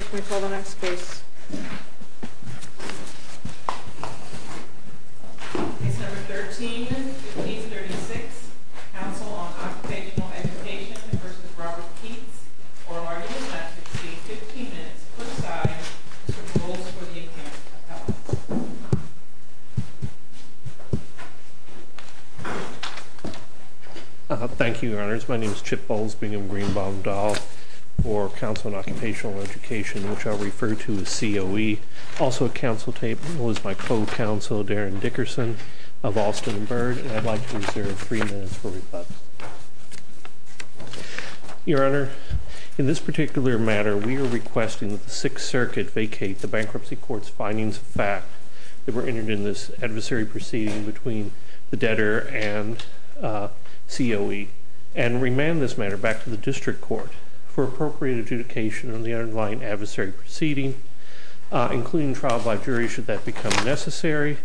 Can we call the next case? Case number 13-1536. Council on Occupational Education v. Robert Keats. Oral argument left to speak. 15 minutes per side. Mr. Bowles for the appearance. Thank you, Your Honours. My name is Chip Bowles. Bingham Greenbaum Dahl for Council on Occupational Education, which I'll refer to as COE. Also at council table is my co-counsel, Darren Dickerson of Alston & Byrd, and I'd like to reserve three minutes for rebuttal. Your Honour, in this particular matter, we are requesting that the Sixth Circuit vacate the Bankruptcy Court's findings of fact that were entered in this adversary proceeding between the debtor and COE and remand this matter back to the District Court for appropriate adjudication on the underlying adversary proceeding, including trial by jury should that become necessary,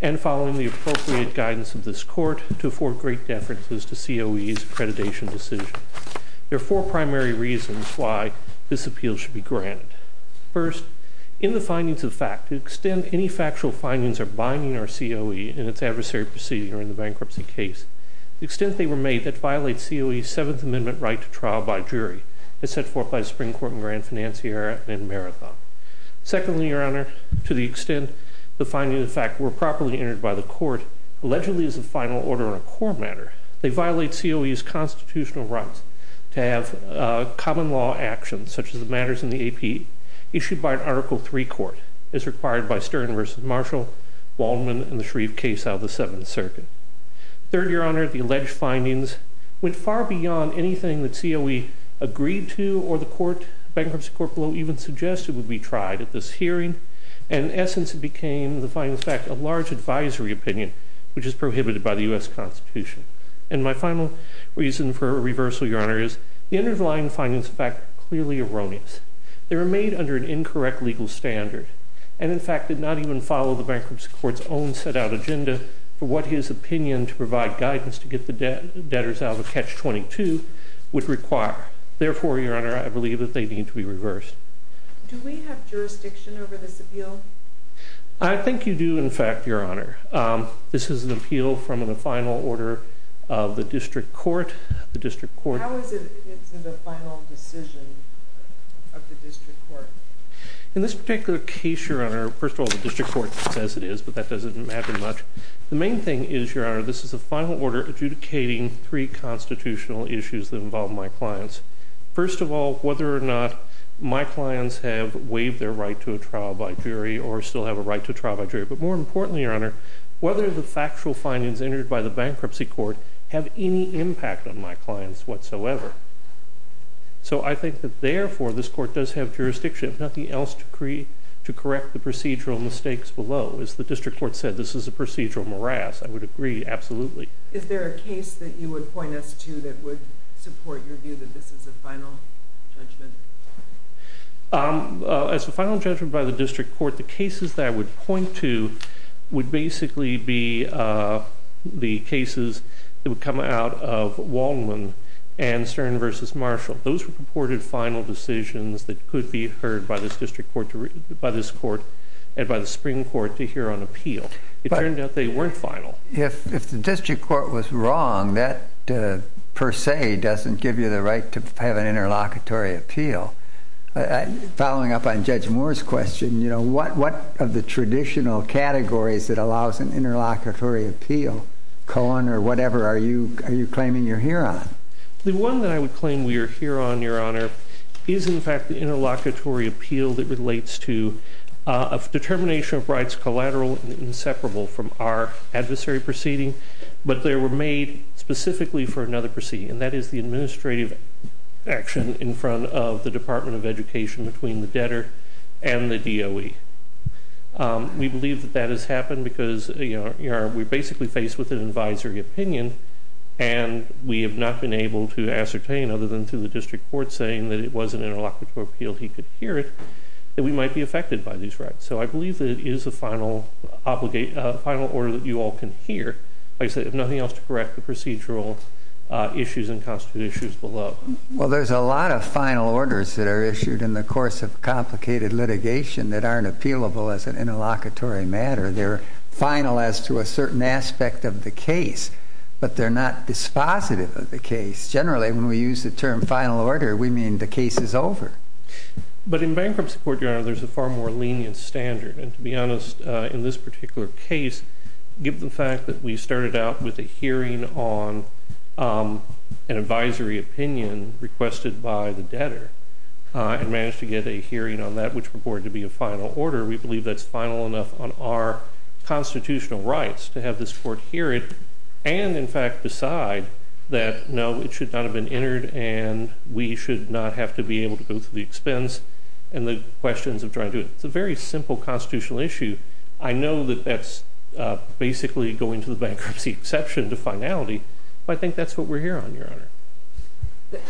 and following the appropriate guidance of this Court to afford great deferences to COE's accreditation decision. There are four primary reasons why this appeal should be granted. First, in the findings of fact, to the extent any factual findings are binding our COE in its adversary proceeding or in the bankruptcy case, the extent they were made that violates COE's right to trial by jury, as set forth by the Supreme Court in Grand Financiera and in Marathon. Secondly, Your Honour, to the extent the findings of fact were properly entered by the Court, allegedly as a final order on a core matter, they violate COE's constitutional rights to have common law actions, such as the matters in the AP, issued by an Article III Court, as required by Stern v. Marshall, Waldman, and the Shreve case out of the Seventh Circuit. Third, Your Honour, the alleged findings went far beyond anything that COE agreed to or the bankruptcy court below even suggested would be tried at this hearing, and in essence it became, in the findings of fact, a large advisory opinion, which is prohibited by the U.S. Constitution. And my final reason for reversal, Your Honour, is the underlying findings of fact are clearly erroneous. They were made under an incorrect legal standard and, in fact, did not even follow the bankruptcy court's own set-out agenda for what his opinion to provide guidance to get the debtors out of a Catch-22 would require. Therefore, Your Honour, I believe that they need to be reversed. Do we have jurisdiction over this appeal? I think you do, in fact, Your Honour. This is an appeal from the final order of the District Court. How is it a final decision of the District Court? In this particular case, Your Honour, first of all, the District Court says it is, but that doesn't matter much. The main thing is, Your Honour, this is a final order adjudicating three constitutional issues that involve my clients. First of all, whether or not my clients have waived their right to a trial by jury or still have a right to a trial by jury, but more importantly, Your Honour, whether the factual findings entered by the bankruptcy court have any impact on my clients whatsoever. So I think that, therefore, this court does have jurisdiction, if nothing else, to correct the procedural mistakes below. As the District Court said, this is a procedural morass. I would agree, absolutely. Is there a case that you would point us to that would support your view that this is a final judgment? As a final judgment by the District Court, the cases that I would point to would basically be the cases that would come out of Waldman and Stern v. Marshall. Those were purported final decisions that could be heard by this District Court, and by the Supreme Court to hear on appeal. It turned out they weren't final. If the District Court was wrong, that per se doesn't give you the right to have an interlocutory appeal. Following up on Judge Moore's question, what of the traditional categories that allows an interlocutory appeal, Cohen or whatever, are you claiming you're here on? The one that I would claim we are here on, Your Honour, is in fact the interlocutory appeal that relates to a determination of rights collateral and inseparable from our adversary proceeding, but they were made specifically for another proceeding, and that is the administrative action in front of the Department of Education between the debtor and the DOE. We believe that that has happened because we're basically faced with an advisory opinion, and we have not been able to ascertain, other than through the District Court, saying that it was an interlocutory appeal, he could hear it, that we might be affected by these rights. So I believe that it is a final order that you all can hear. I just have nothing else to correct the procedural issues and constitute issues below. Well, there's a lot of final orders that are issued in the course of complicated litigation that aren't appealable as an interlocutory matter. They're final as to a certain aspect of the case, but they're not dispositive of the case. Generally, when we use the term final order, we mean the case is over. But in bankruptcy court, Your Honor, there's a far more lenient standard, and to be honest, in this particular case, given the fact that we started out with a hearing on an advisory opinion requested by the debtor and managed to get a hearing on that which reported to be a final order, we believe that's final enough on our constitutional rights to have this court hear it and, in fact, decide that, no, it should not have been entered and we should not have to be able to go through the expense and the questions of trying to do it. It's a very simple constitutional issue. I know that that's basically going to the bankruptcy exception to finality, but I think that's what we're here on, Your Honor. But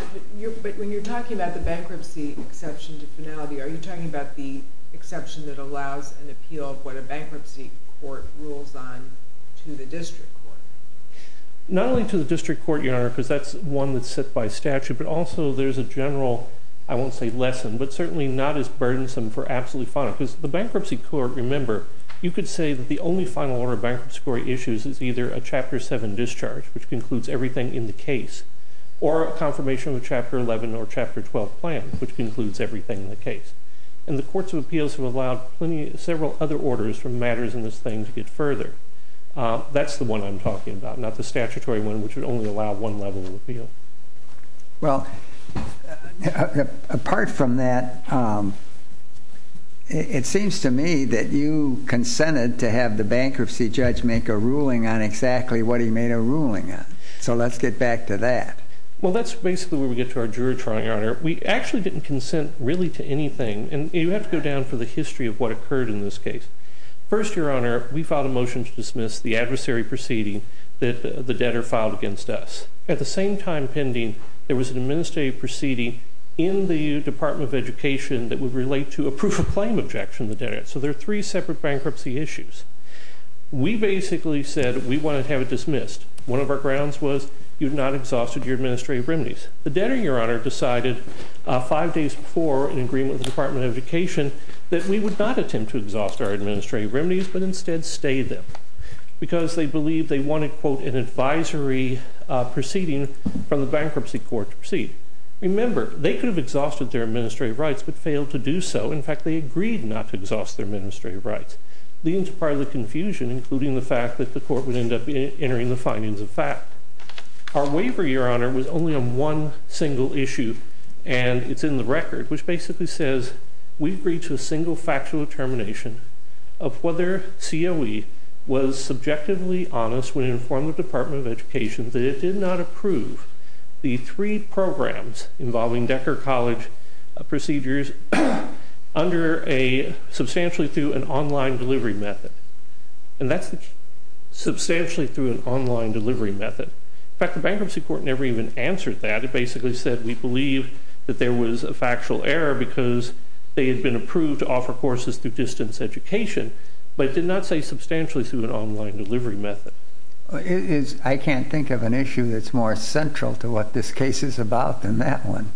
when you're talking about the bankruptcy exception to finality, are you talking about the exception that allows an appeal of what a bankruptcy court rules on to the district court? Not only to the district court, Your Honor, because that's one that's set by statute, but also there's a general, I won't say lesson, but certainly not as burdensome for absolutely final. Because the bankruptcy court, remember, you could say that the only final order a bankruptcy court issues is either a Chapter 7 discharge, which concludes everything in the case, or a confirmation of a Chapter 11 or Chapter 12 plan, which concludes everything in the case. And the courts of appeals have allowed several other orders for matters in this thing to get further. That's the one I'm talking about, not the statutory one, which would only allow one level of appeal. Well, apart from that, it seems to me that you consented to have the bankruptcy judge make a ruling on exactly what he made a ruling on. So let's get back to that. Well, that's basically where we get to our jury trial, Your Honor. We actually didn't consent really to anything. And you have to go down for the history of what occurred in this case. First, Your Honor, we filed a motion to dismiss the adversary proceeding that the debtor filed against us. At the same time pending, there was an administrative proceeding in the Department of Education that would relate to a proof of claim objection the debtor had. So there are three separate bankruptcy issues. We basically said, we want to have it dismissed. One of our grounds was, you've not exhausted your administrative remedies. The debtor, Your Honor, decided five days before in agreement with the Department of Education that we would not attempt to exhaust our administrative remedies, but instead stay them. Because they believed they wanted, quote, an advisory proceeding from the bankruptcy court to proceed. Remember, they could have exhausted their administrative rights, but failed to do so. In fact, they agreed not to exhaust their administrative rights. Leading to part of the confusion, including the fact that the court would end up entering the findings of fact. Our waiver, Your Honor, was only on one single issue. And it's in the record, which basically says, we've reached a single factual determination of whether COE was subjectively honest when it informed the Department of Education that it did not approve the three programs involving Decker College procedures under a substantially through an online delivery method. And that's substantially through an online delivery method. In fact, the bankruptcy court never even answered that. It basically said, we believe that there was a factual error because they had been approved to offer courses through distance education, but did not say substantially through an online delivery method. I can't think of an issue that's more central to what this case is about than that one.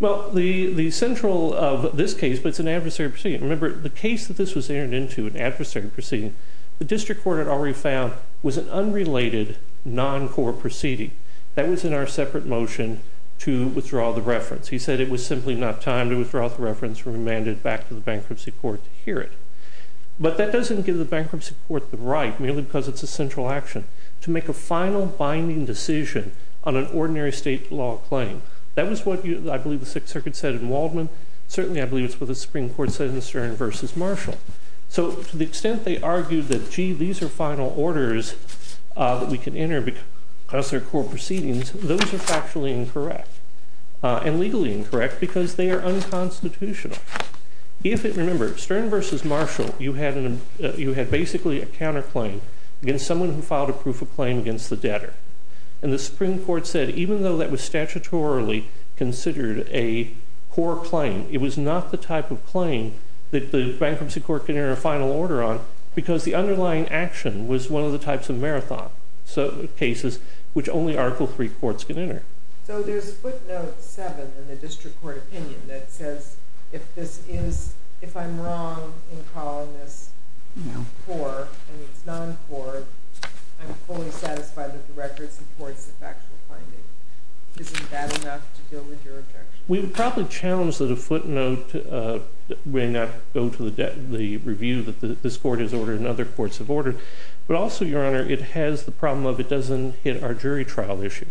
Well, the central of this case, but it's an adversary proceeding. Remember, the case that this was entered into, an adversary proceeding, the district court had already found was an unrelated non-court proceeding. That was in our separate motion to withdraw the reference. He said it was simply not time to withdraw the reference and remand it back to the bankruptcy court to hear it. But that doesn't give the bankruptcy court the right, merely because it's a central action, to make a final binding decision on an ordinary state law claim. That was what I believe the Sixth Circuit said in Waldman. Certainly I believe it's what the Supreme Court said in Stern versus Marshall. So to the extent they argued that, gee, these are final orders that we can enter because they're court proceedings, those are factually incorrect, and legally incorrect because they are unconstitutional. If it, remember, Stern versus Marshall, you had basically a counterclaim against someone who filed a proof of claim against the debtor. And the Supreme Court said, even though that was statutorily considered a core claim, it was not the type of claim that the bankruptcy court could enter a final order on because the underlying action was one of the types of marathon cases which only Article III courts can enter. So there's footnote 7 in the district court opinion that says if I'm wrong in calling this core, and it's not a core, I'm fully satisfied that the record supports the factual finding. Isn't that enough to deal with your objection? We would probably challenge that a footnote will not go to the review that this court has ordered and other courts have ordered. But also, Your Honor, it has the problem of it doesn't hit our jury trial issue.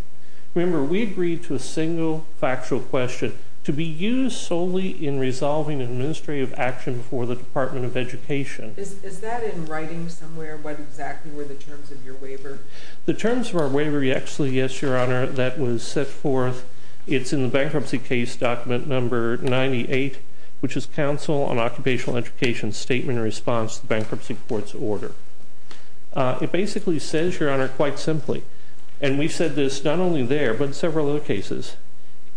Remember, we agreed to a single factual question to be used solely in resolving an administrative action before the Department of Education. Is that in writing somewhere, what exactly were the terms of your waiver? The terms of our waiver, yes, Your Honor, that was set forth. It's in the Bankruptcy Case Document No. 98, which is Council on Occupational Education's Statement in Response to the Bankruptcy Court's Order. It basically says, Your Honor, quite simply, and we've said this not only there but in several other cases,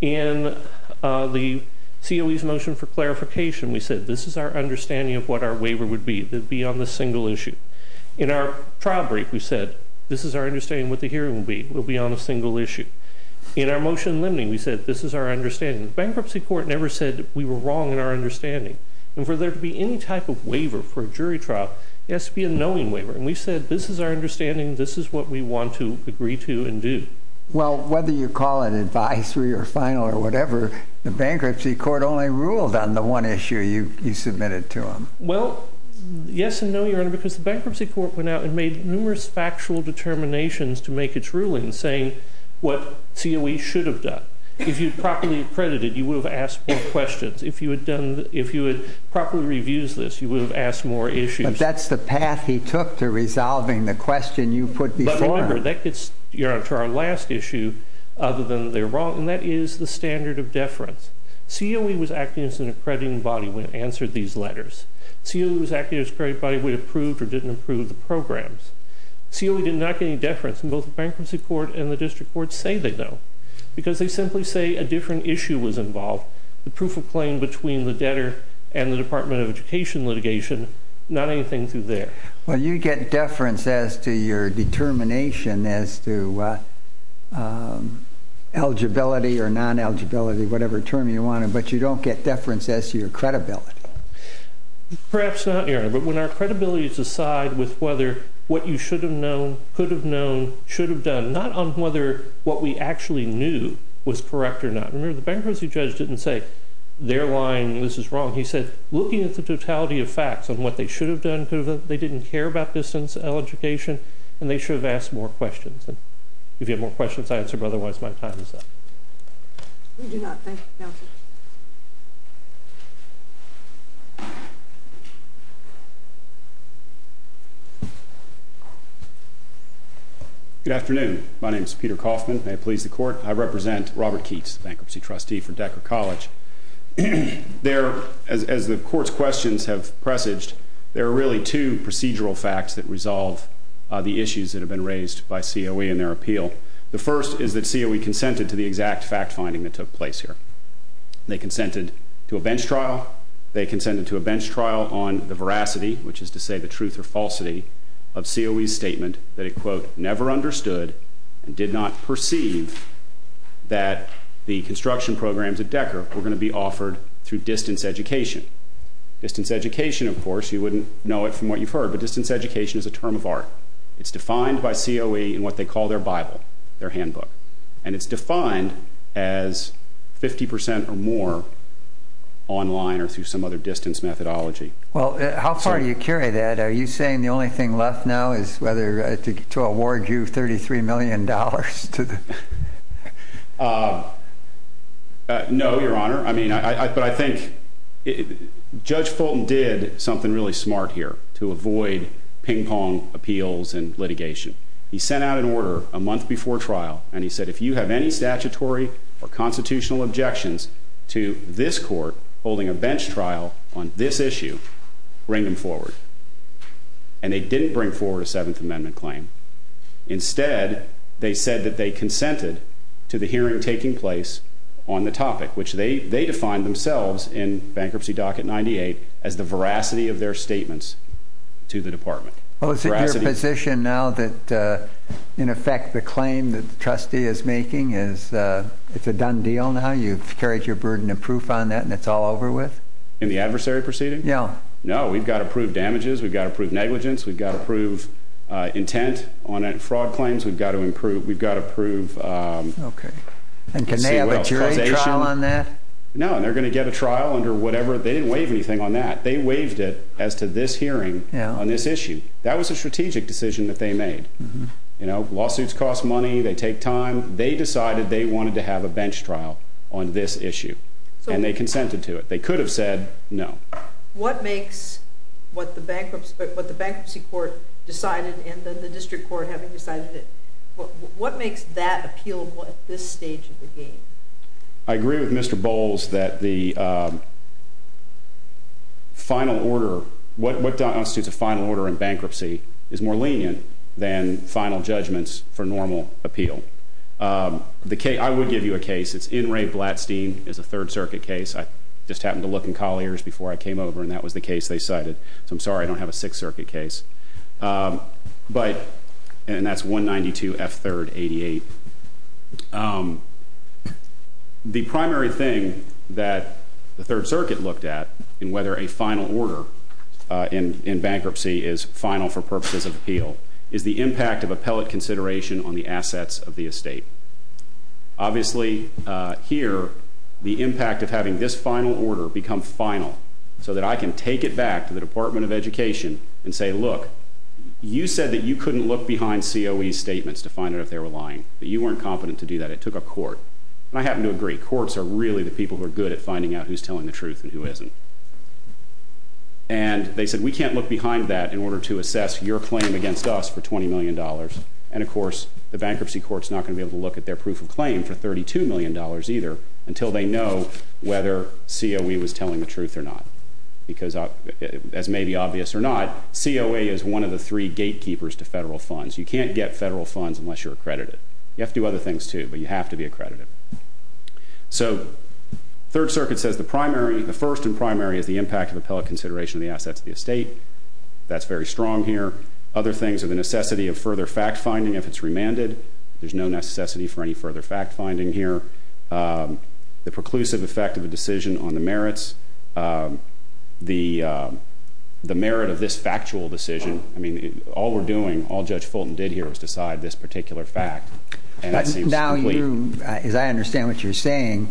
in the COE's motion for clarification, we said, this is our understanding of what our waiver would be. It would be on the single issue. In our trial brief, we said, this is our understanding of what the hearing will be. It will be on a single issue. In our motion limiting, we said, this is our understanding. The Bankruptcy Court never said we were wrong in our understanding. And for there to be any type of waiver for a jury trial, it has to be a knowing waiver. And we said, this is our understanding. This is what we want to agree to and do. Well, whether you call it advisory or final or whatever, the Bankruptcy Court only ruled on the one issue you submitted to them. Well, yes and no, Your Honor, because the Bankruptcy Court went out and made numerous factual determinations to make its ruling saying what COE should have done. If you had properly accredited, you would have asked more questions. If you had properly reviewed this, you would have asked more issues. But that's the path he took to resolving the question you put before him. But remember, that gets, Your Honor, to our last issue, other than they're wrong, and that is the standard of deference. COE was acting as an accrediting body when it answered these letters. COE was acting as an accrediting body when it approved or didn't approve the programs. COE did not get any deference, and both the Bankruptcy Court and the District Courts say they don't, because they simply say a different issue was involved, the proof of claim between the debtor and the Department of Education litigation, not anything through there. Well, you get deference as to your determination as to eligibility or non-eligibility, whatever term you want, but you don't get deference as to your credibility. Perhaps not, Your Honor, but when our credibility is decided with whether what you should have known, could have known, should have done, not on whether what we actually knew was correct or not. Remember, the bankruptcy judge didn't say, their line, this is wrong. He said, looking at the totality of facts on what they should have done, could have done, they didn't care about distance education, and they should have asked more questions. If you have more questions, I answer, but otherwise my time is up. We do not, thank you, counsel. Good afternoon. My name is Peter Kaufman, may it please the court. I represent Robert Keats, bankruptcy trustee for Decker College. As the court's questions have presaged, there are really two procedural facts that resolve the issues that have been raised by COE in their appeal. The first is that COE consented to the exact fact-finding that took place here. They consented to a bench trial, they consented to a bench trial on the veracity, which is to say the truth or falsity, of COE's statement that it, quote, never understood and did not perceive that the construction programs at Decker were going to be offered through distance education. Distance education, of course, you wouldn't know it from what you've heard, but distance education is a term of art. It's defined by COE in what they call their bible, their handbook. And it's defined as 50% or more online or through some other distance methodology. Well, how far do you carry that? Are you saying the only thing left now is whether to award you $33 million to the... No, Your Honor. But I think Judge Fulton did something really smart here to avoid ping-pong appeals and litigation. He sent out an order a month before trial, and he said if you have any statutory or constitutional objections to this court holding a bench trial on this issue, bring them forward. And they didn't bring forward a Seventh Amendment claim. Instead, they said that they consented to the hearing taking place on the topic, which they defined themselves in Bankruptcy Docket 98 as the veracity of their statements to the department. Well, is it your position now that, in effect, the claim that the trustee is making is it's a done deal now? You've carried your burden of proof on that, and it's all over with? In the adversary proceeding? Yeah. No, we've got to prove damages. We've got to prove negligence. We've got to prove intent on fraud claims. We've got to prove... Okay. And can they have a jury trial on that? No, they're going to get a trial under whatever. They didn't waive anything on that. They waived it as to this hearing on this issue. That was a strategic decision that they made. Lawsuits cost money. They take time. They decided they wanted to have a bench trial on this issue, and they consented to it. They could have said no. What makes what the bankruptcy court decided and then the district court having decided it, what makes that appealable at this stage of the game? I agree with Mr. Bowles that the final order, what constitutes a final order in bankruptcy, is more lenient than final judgments for normal appeal. I would give you a case. It's N. Ray Blatstein. It's a Third Circuit case. I just happened to look in Collier's before I came over, and that was the case they cited. So I'm sorry I don't have a Sixth Circuit case. And that's 192 F. 3rd 88. The primary thing that the Third Circuit looked at in whether a final order in bankruptcy is final for purposes of appeal is the impact of appellate consideration on the assets of the estate. Obviously, here, the impact of having this final order become final so that I can take it back to the Department of Education and say, look, you said that you couldn't look behind COE's statements to find out if they were lying, that you weren't competent to do that. It took a court. And I happen to agree, courts are really the people who are good at finding out who's telling the truth and who isn't. And they said, we can't look behind that in order to assess your claim against us for $20 million. And, of course, the bankruptcy court is not going to be able to look at their proof of claim for $32 million either until they know whether COE was telling the truth or not. Because, as may be obvious or not, COE is one of the three gatekeepers to federal funds. You can't get federal funds unless you're accredited. You have to do other things, too, but you have to be accredited. So Third Circuit says the first and primary is the impact of appellate consideration of the assets of the estate. That's very strong here. Other things are the necessity of further fact-finding if it's remanded. There's no necessity for any further fact-finding here. The preclusive effect of a decision on the merits. The merit of this factual decision. I mean, all we're doing, all Judge Fulton did here, was decide this particular fact. And that seems complete. Now you, as I understand what you're saying,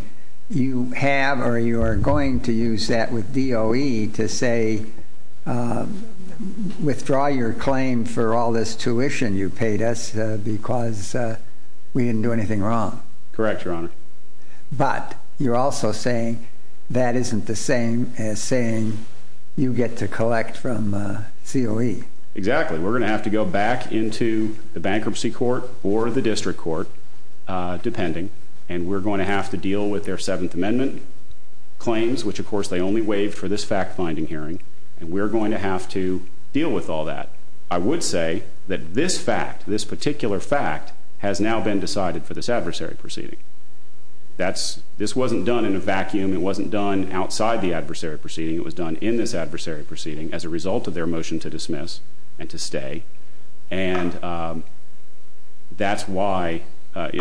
you have or you are going to use that with DOE to say, withdraw your claim for all this tuition you paid us because we didn't do anything wrong. Correct, Your Honor. But you're also saying that isn't the same as saying you get to collect from COE. Exactly. We're going to have to go back into the bankruptcy court or the district court, depending, and we're going to have to deal with their Seventh Amendment claims, which, of course, they only waived for this fact-finding hearing. And we're going to have to deal with all that. I would say that this fact, this particular fact, has now been decided for this adversary proceeding. This wasn't done in a vacuum. It wasn't done outside the adversary proceeding. It was done in this adversary proceeding as a result of their motion to dismiss and to stay. And that's why.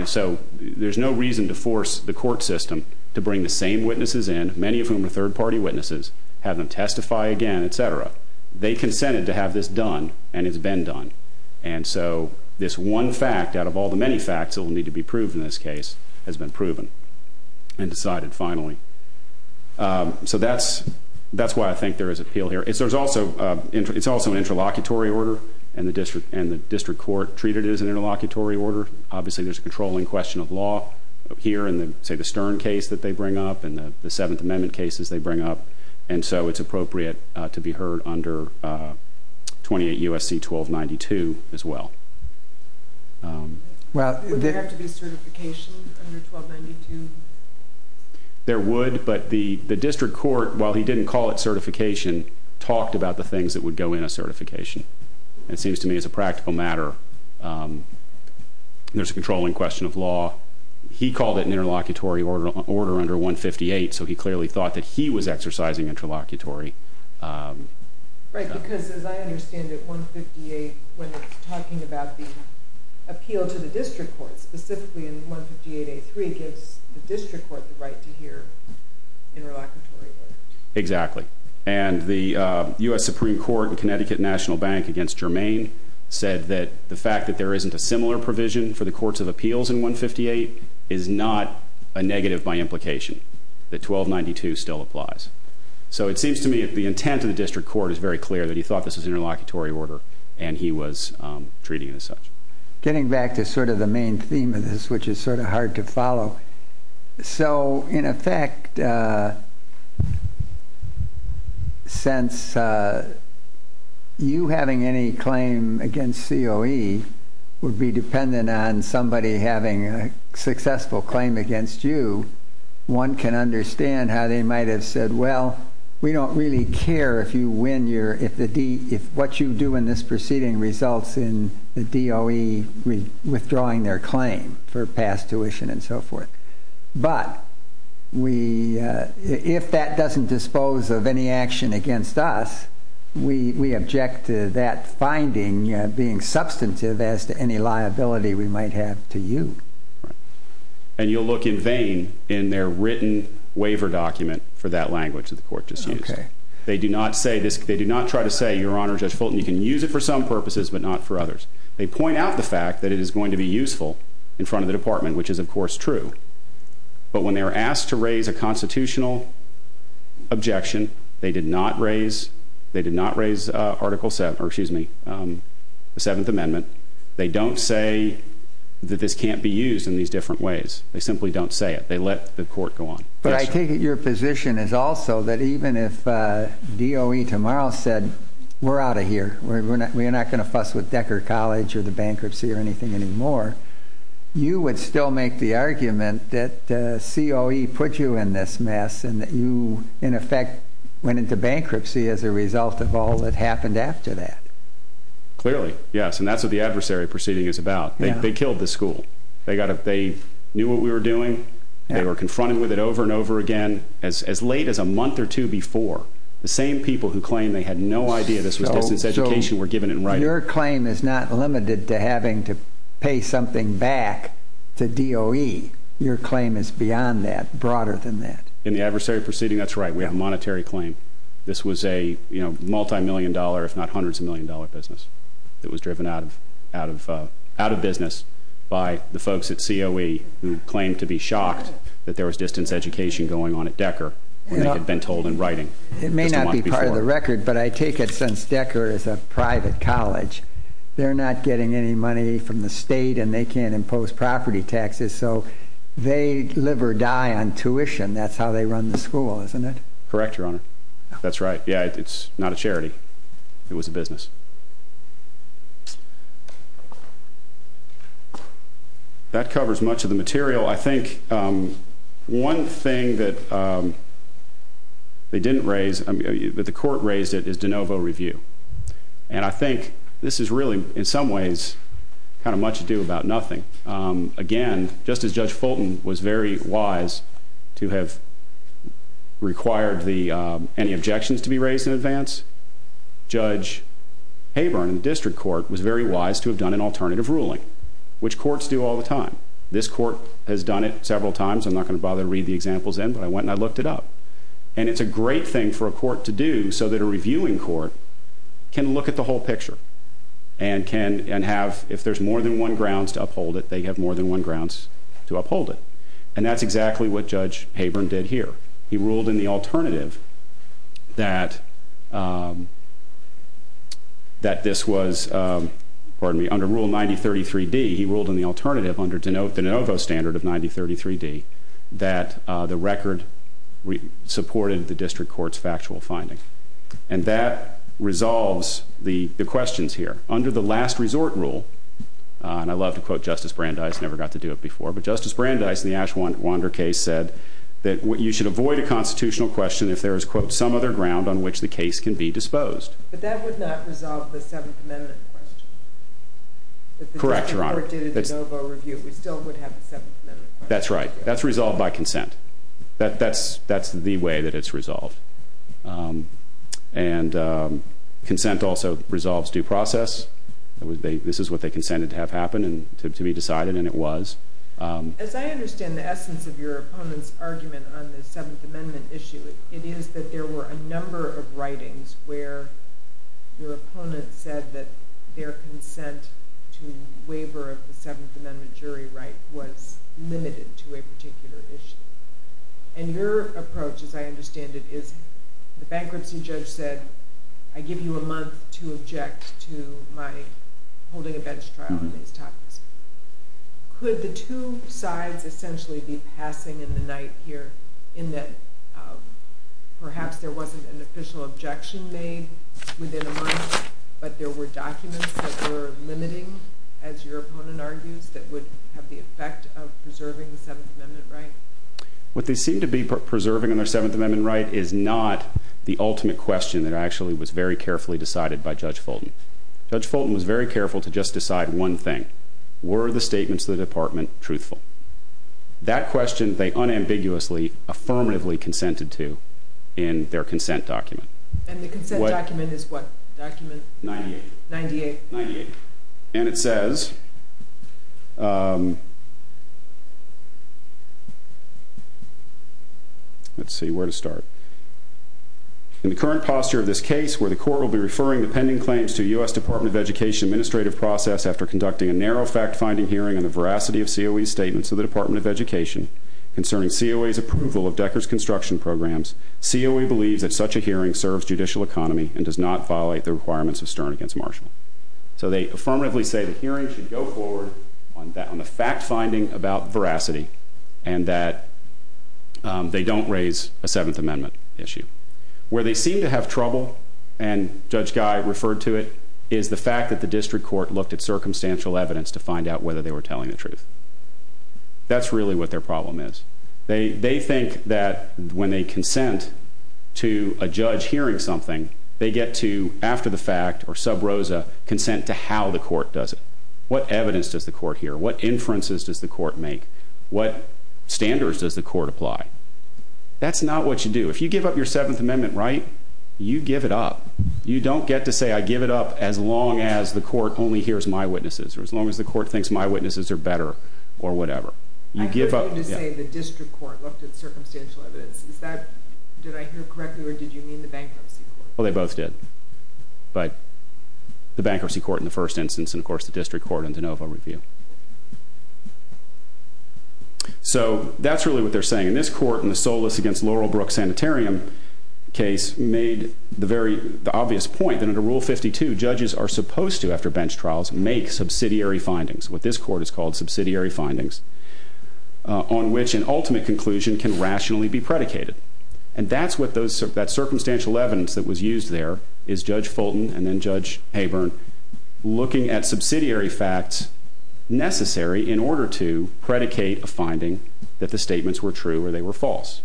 So there's no reason to force the court system to bring the same witnesses in, many of whom are third-party witnesses, have them testify again, et cetera. They consented to have this done, and it's been done. And so this one fact, out of all the many facts that will need to be proved in this case, has been proven and decided finally. So that's why I think there is appeal here. It's also an interlocutory order, and the district court treated it as an interlocutory order. Obviously, there's a controlling question of law here in, say, the Stern case that they bring up and the Seventh Amendment cases they bring up. And so it's appropriate to be heard under 28 U.S.C. 1292 as well. Would there have to be certification under 1292? There would, but the district court, while he didn't call it certification, talked about the things that would go in a certification. It seems to me it's a practical matter. There's a controlling question of law. He called it an interlocutory order under 158, so he clearly thought that he was exercising interlocutory. Right, because as I understand it, 158, when it's talking about the appeal to the district court, specifically in 158A3, gives the district court the right to hear interlocutory order. Exactly. And the U.S. Supreme Court and Connecticut National Bank against Germain said that the fact that there isn't a similar provision for the courts of appeals in 158 is not a negative by implication, that 1292 still applies. So it seems to me the intent of the district court is very clear that he thought this was an interlocutory order and he was treating it as such. Getting back to sort of the main theme of this, which is sort of hard to follow, so in effect, since you having any claim against COE would be dependent on somebody having a successful claim against you, one can understand how they might have said, well, we don't really care if what you do in this proceeding results in the DOE withdrawing their claim for past tuition and so forth. But if that doesn't dispose of any action against us, we object to that finding being substantive as to any liability we might have to you. Right. And you'll look in vain in their written waiver document for that language that the court just used. Okay. They do not try to say, Your Honor, Judge Fulton, you can use it for some purposes but not for others. They point out the fact that it is going to be useful in front of the department, which is, of course, true. But when they were asked to raise a constitutional objection, they did not raise Article 7, or excuse me, the 7th Amendment. They don't say that this can't be used in these different ways. They simply don't say it. They let the court go on. But I take it your position is also that even if DOE tomorrow said, we're out of here, we're not going to fuss with Decker College or the bankruptcy or anything anymore, you would still make the argument that COE put you in this mess and that you, in effect, went into bankruptcy as a result of all that happened after that. Clearly, yes. And that's what the adversary proceeding is about. They killed the school. They knew what we were doing. They were confronted with it over and over again. As late as a month or two before, the same people who claimed they had no idea this was distance education were given in writing. So your claim is not limited to having to pay something back to DOE. Your claim is beyond that, broader than that. In the adversary proceeding, that's right. We have a monetary claim. This was a multimillion-dollar, if not hundreds of million-dollar business that was driven out of business by the folks at COE who claimed to be shocked that there was distance education going on at Decker when they had been told in writing just a month before. It may not be part of the record, but I take it since Decker is a private college, they're not getting any money from the state, and they can't impose property taxes. So they live or die on tuition. That's how they run the school, isn't it? Correct, Your Honor. That's right. Yeah, it's not a charity. It was a business. That covers much of the material. I think one thing that they didn't raise, that the court raised it, is de novo review. And I think this is really, in some ways, kind of much ado about nothing. Again, just as Judge Fulton was very wise to have required any objections to be raised in advance, Judge Haburn in the district court was very wise to have done an alternative ruling, which courts do all the time. This court has done it several times. I'm not going to bother to read the examples in, but I went and I looked it up. And it's a great thing for a court to do so that a reviewing court can look at the whole picture and have, if there's more than one grounds to uphold it, they have more than one grounds to uphold it. And that's exactly what Judge Haburn did here. He ruled in the alternative that this was, pardon me, under Rule 9033D, he ruled in the alternative, under de novo standard of 9033D, that the record supported the district court's factual finding. And that resolves the questions here. Under the last resort rule, and I love to quote Justice Brandeis, never got to do it before, but Justice Brandeis in the Ashwander case said that you should avoid a constitutional question if there is, quote, some other ground on which the case can be disposed. But that would not resolve the Seventh Amendment question. Correct, Your Honor. If the district court did a de novo review, we still would have the Seventh Amendment question. That's right. That's resolved by consent. That's the way that it's resolved. And consent also resolves due process. This is what they consented to have happen and to be decided, and it was. As I understand the essence of your opponent's argument on the Seventh Amendment issue, it is that there were a number of writings where your opponent said that their consent to waiver of the Seventh Amendment jury right was limited to a particular issue. And your approach, as I understand it, is the bankruptcy judge said, I give you a month to object to my holding a bench trial on these topics. Could the two sides essentially be passing in the night here in that perhaps there wasn't an official objection made within a month, but there were documents that were limiting, as your opponent argues, that would have the effect of preserving the Seventh Amendment right? What they seem to be preserving on their Seventh Amendment right is not the ultimate question that actually was very carefully decided by Judge Fulton. Judge Fulton was very careful to just decide one thing. Were the statements of the department truthful? That question they unambiguously, affirmatively consented to in their consent document. And the consent document is what document? 98. 98. 98. And it says... Let's see where to start. In the current posture of this case, where the court will be referring the pending claims to U.S. Department of Education administrative process after conducting a narrow fact-finding hearing on the veracity of COE's statements to the Department of Education concerning COE's approval of Decker's construction programs, COE believes that such a hearing serves judicial economy and does not violate the requirements of Stern against Marshall. So they affirmatively say the hearing should go forward on the fact-finding about veracity and that they don't raise a Seventh Amendment issue. Where they seem to have trouble, and Judge Guy referred to it, is the fact that the district court looked at circumstantial evidence to find out whether they were telling the truth. That's really what their problem is. They think that when they consent to a judge hearing something, they get to, after the fact or sub rosa, consent to how the court does it. What evidence does the court hear? What inferences does the court make? What standards does the court apply? That's not what you do. If you give up your Seventh Amendment right, you give it up. You don't get to say, I give it up as long as the court only hears my witnesses or as long as the court thinks my witnesses are better or whatever. You give up... I heard you say the district court looked at circumstantial evidence. Did I hear correctly or did you mean the bankruptcy court? Well, they both did. But the bankruptcy court in the first instance and, of course, the district court in de novo review. So that's really what they're saying. And this court in the Solis against Laurelbrook Sanitarium case made the very obvious point that under Rule 52, judges are supposed to, after bench trials, make subsidiary findings, what this court has called subsidiary findings, on which an ultimate conclusion can rationally be predicated. And that's what those... that circumstantial evidence that was used there is Judge Fulton and then Judge Haburn looking at subsidiary facts necessary in order to predicate a finding that the statements were true or they were false.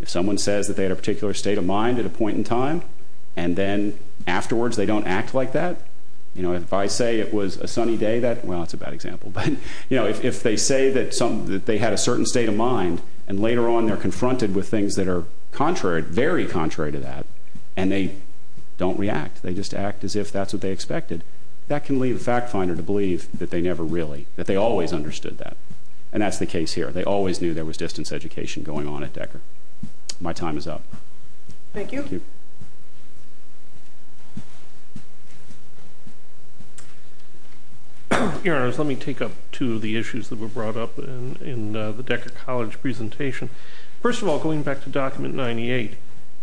If someone says that they had a particular state of mind at a point in time and then afterwards they don't act like that, you know, if I say it was a sunny day that... well, that's a bad example. But, you know, if they say that some... that they had a certain state of mind and later on they're confronted with things that are contrary, very contrary to that, and they don't react. They just act as if that's what they expected. That can lead a fact finder to believe that they never really, that they always understood that. And that's the case here. They always knew there was distance education going on at Decker. My time is up. Thank you. Your Honors, let me take up two of the issues that were brought up in the Decker College presentation. First of all, going back to Document 98.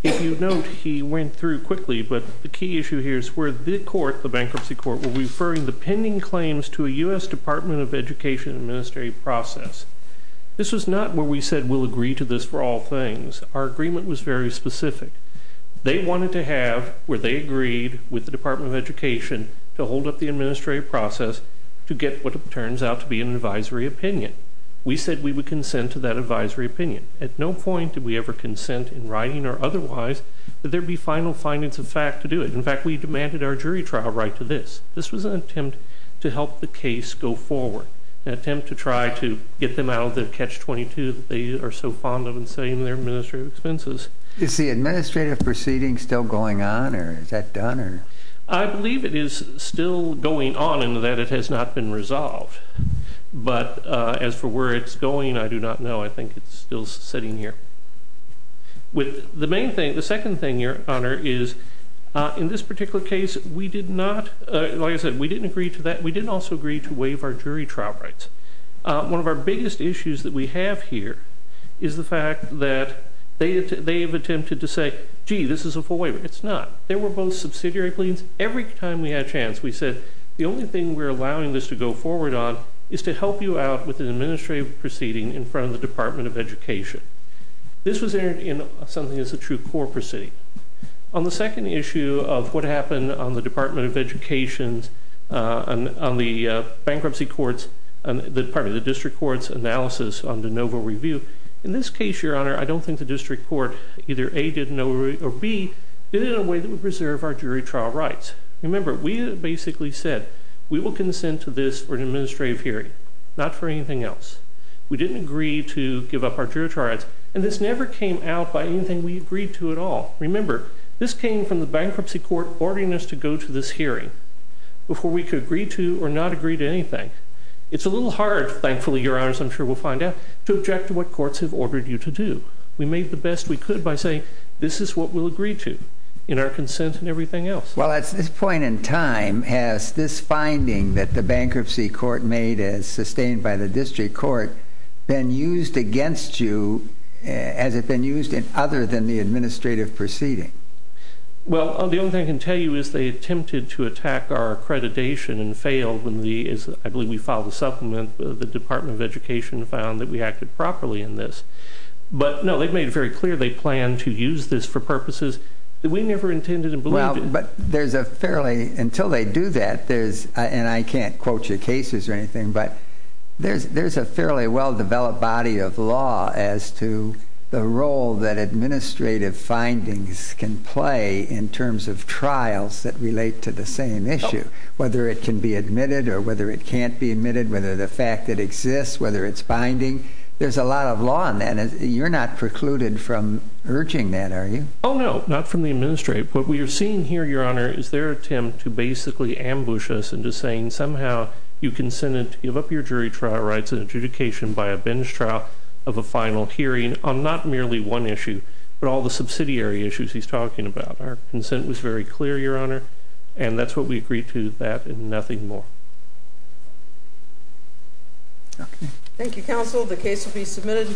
If you note, he went through quickly, but the key issue here is where the court, the bankruptcy court, were referring the pending claims to a U.S. Department of Education administrative process. This was not where we said we'll agree to this for all things. Our agreement was very specific. They wanted to have, where they agreed with the Department of Education to hold up the administrative process to get what turns out to be an advisory opinion. We said we would consent to that advisory opinion. At no point did we ever consent in writing or otherwise that there be final findings of fact to do it. In fact, we demanded our jury trial right to this. This was an attempt to help the case go forward. An attempt to try to get them out of the Catch-22 that they are so fond of and sell you their administrative expenses. Is the administrative proceeding still going on? Or is that done? I believe it is still going on in that it has not been resolved. But as for where it's going, I do not know. I think it's still sitting here. The second thing, Your Honor, is in this particular case, we did not, like I said, we didn't agree to that. We didn't also agree to waive our jury trial rights. One of our biggest issues that we have here is the fact that they have attempted to say, gee, this is a full waiver. It's not. They were both subsidiary pleadings. Every time we had a chance, we said, the only thing we're allowing this to go forward on is to help you out with an administrative proceeding in front of the Department of Education. This was entered in something as a true court proceeding. On the second issue of what happened on the Department of Education's, on the bankruptcy court's, pardon me, the district court's analysis on de novo review, in this case, Your Honor, I don't think the district court either A, didn't know, or B, did it in a way that would preserve our jury trial rights. Remember, we basically said, we will consent to this for an administrative hearing, not for anything else. We didn't agree to give up our jury trial rights, and this never came out by anything we agreed to at all. Remember, this came from the bankruptcy court ordering us to go to this hearing before we could agree to or not agree to anything. It's a little hard, thankfully, Your Honors, I'm sure we'll find out, to object to what courts have ordered you to do. We made the best we could by saying, this is what we'll agree to, in our consent and everything else. Well, at this point in time, has this finding that the bankruptcy court made as sustained by the district court been used against you, has it been used in other than the administrative proceeding? Well, the only thing I can tell you is they attempted to attack our accreditation and failed when the, I believe we filed a supplement, the Department of Education found that we acted properly in this. But, no, they've made it very clear they plan to use this for purposes that we never intended and believed in. Well, but there's a fairly, until they do that, there's, and I can't quote you cases or anything, but there's a fairly well-developed body of law as to the role that administrative findings can play in terms of trials that relate to the same issue, whether it can be admitted or whether it can't be admitted, whether the fact that it exists, whether it's fair or not, into saying that somehow you're not precluded from urging that, are you? Oh, no, not from the administrative. What we're seeing here, Your Honor, is they're attempt to basically ambush us into saying somehow you consented to give up your jury trial rights and adjudication by a binge trial of a final hearing on not merely one issue but all the subsidiary issues he's talking about. Our consent was very clear, Your Honor, and that's what we agreed to, that and nothing more. Thank you, Counsel. The case will be submitted.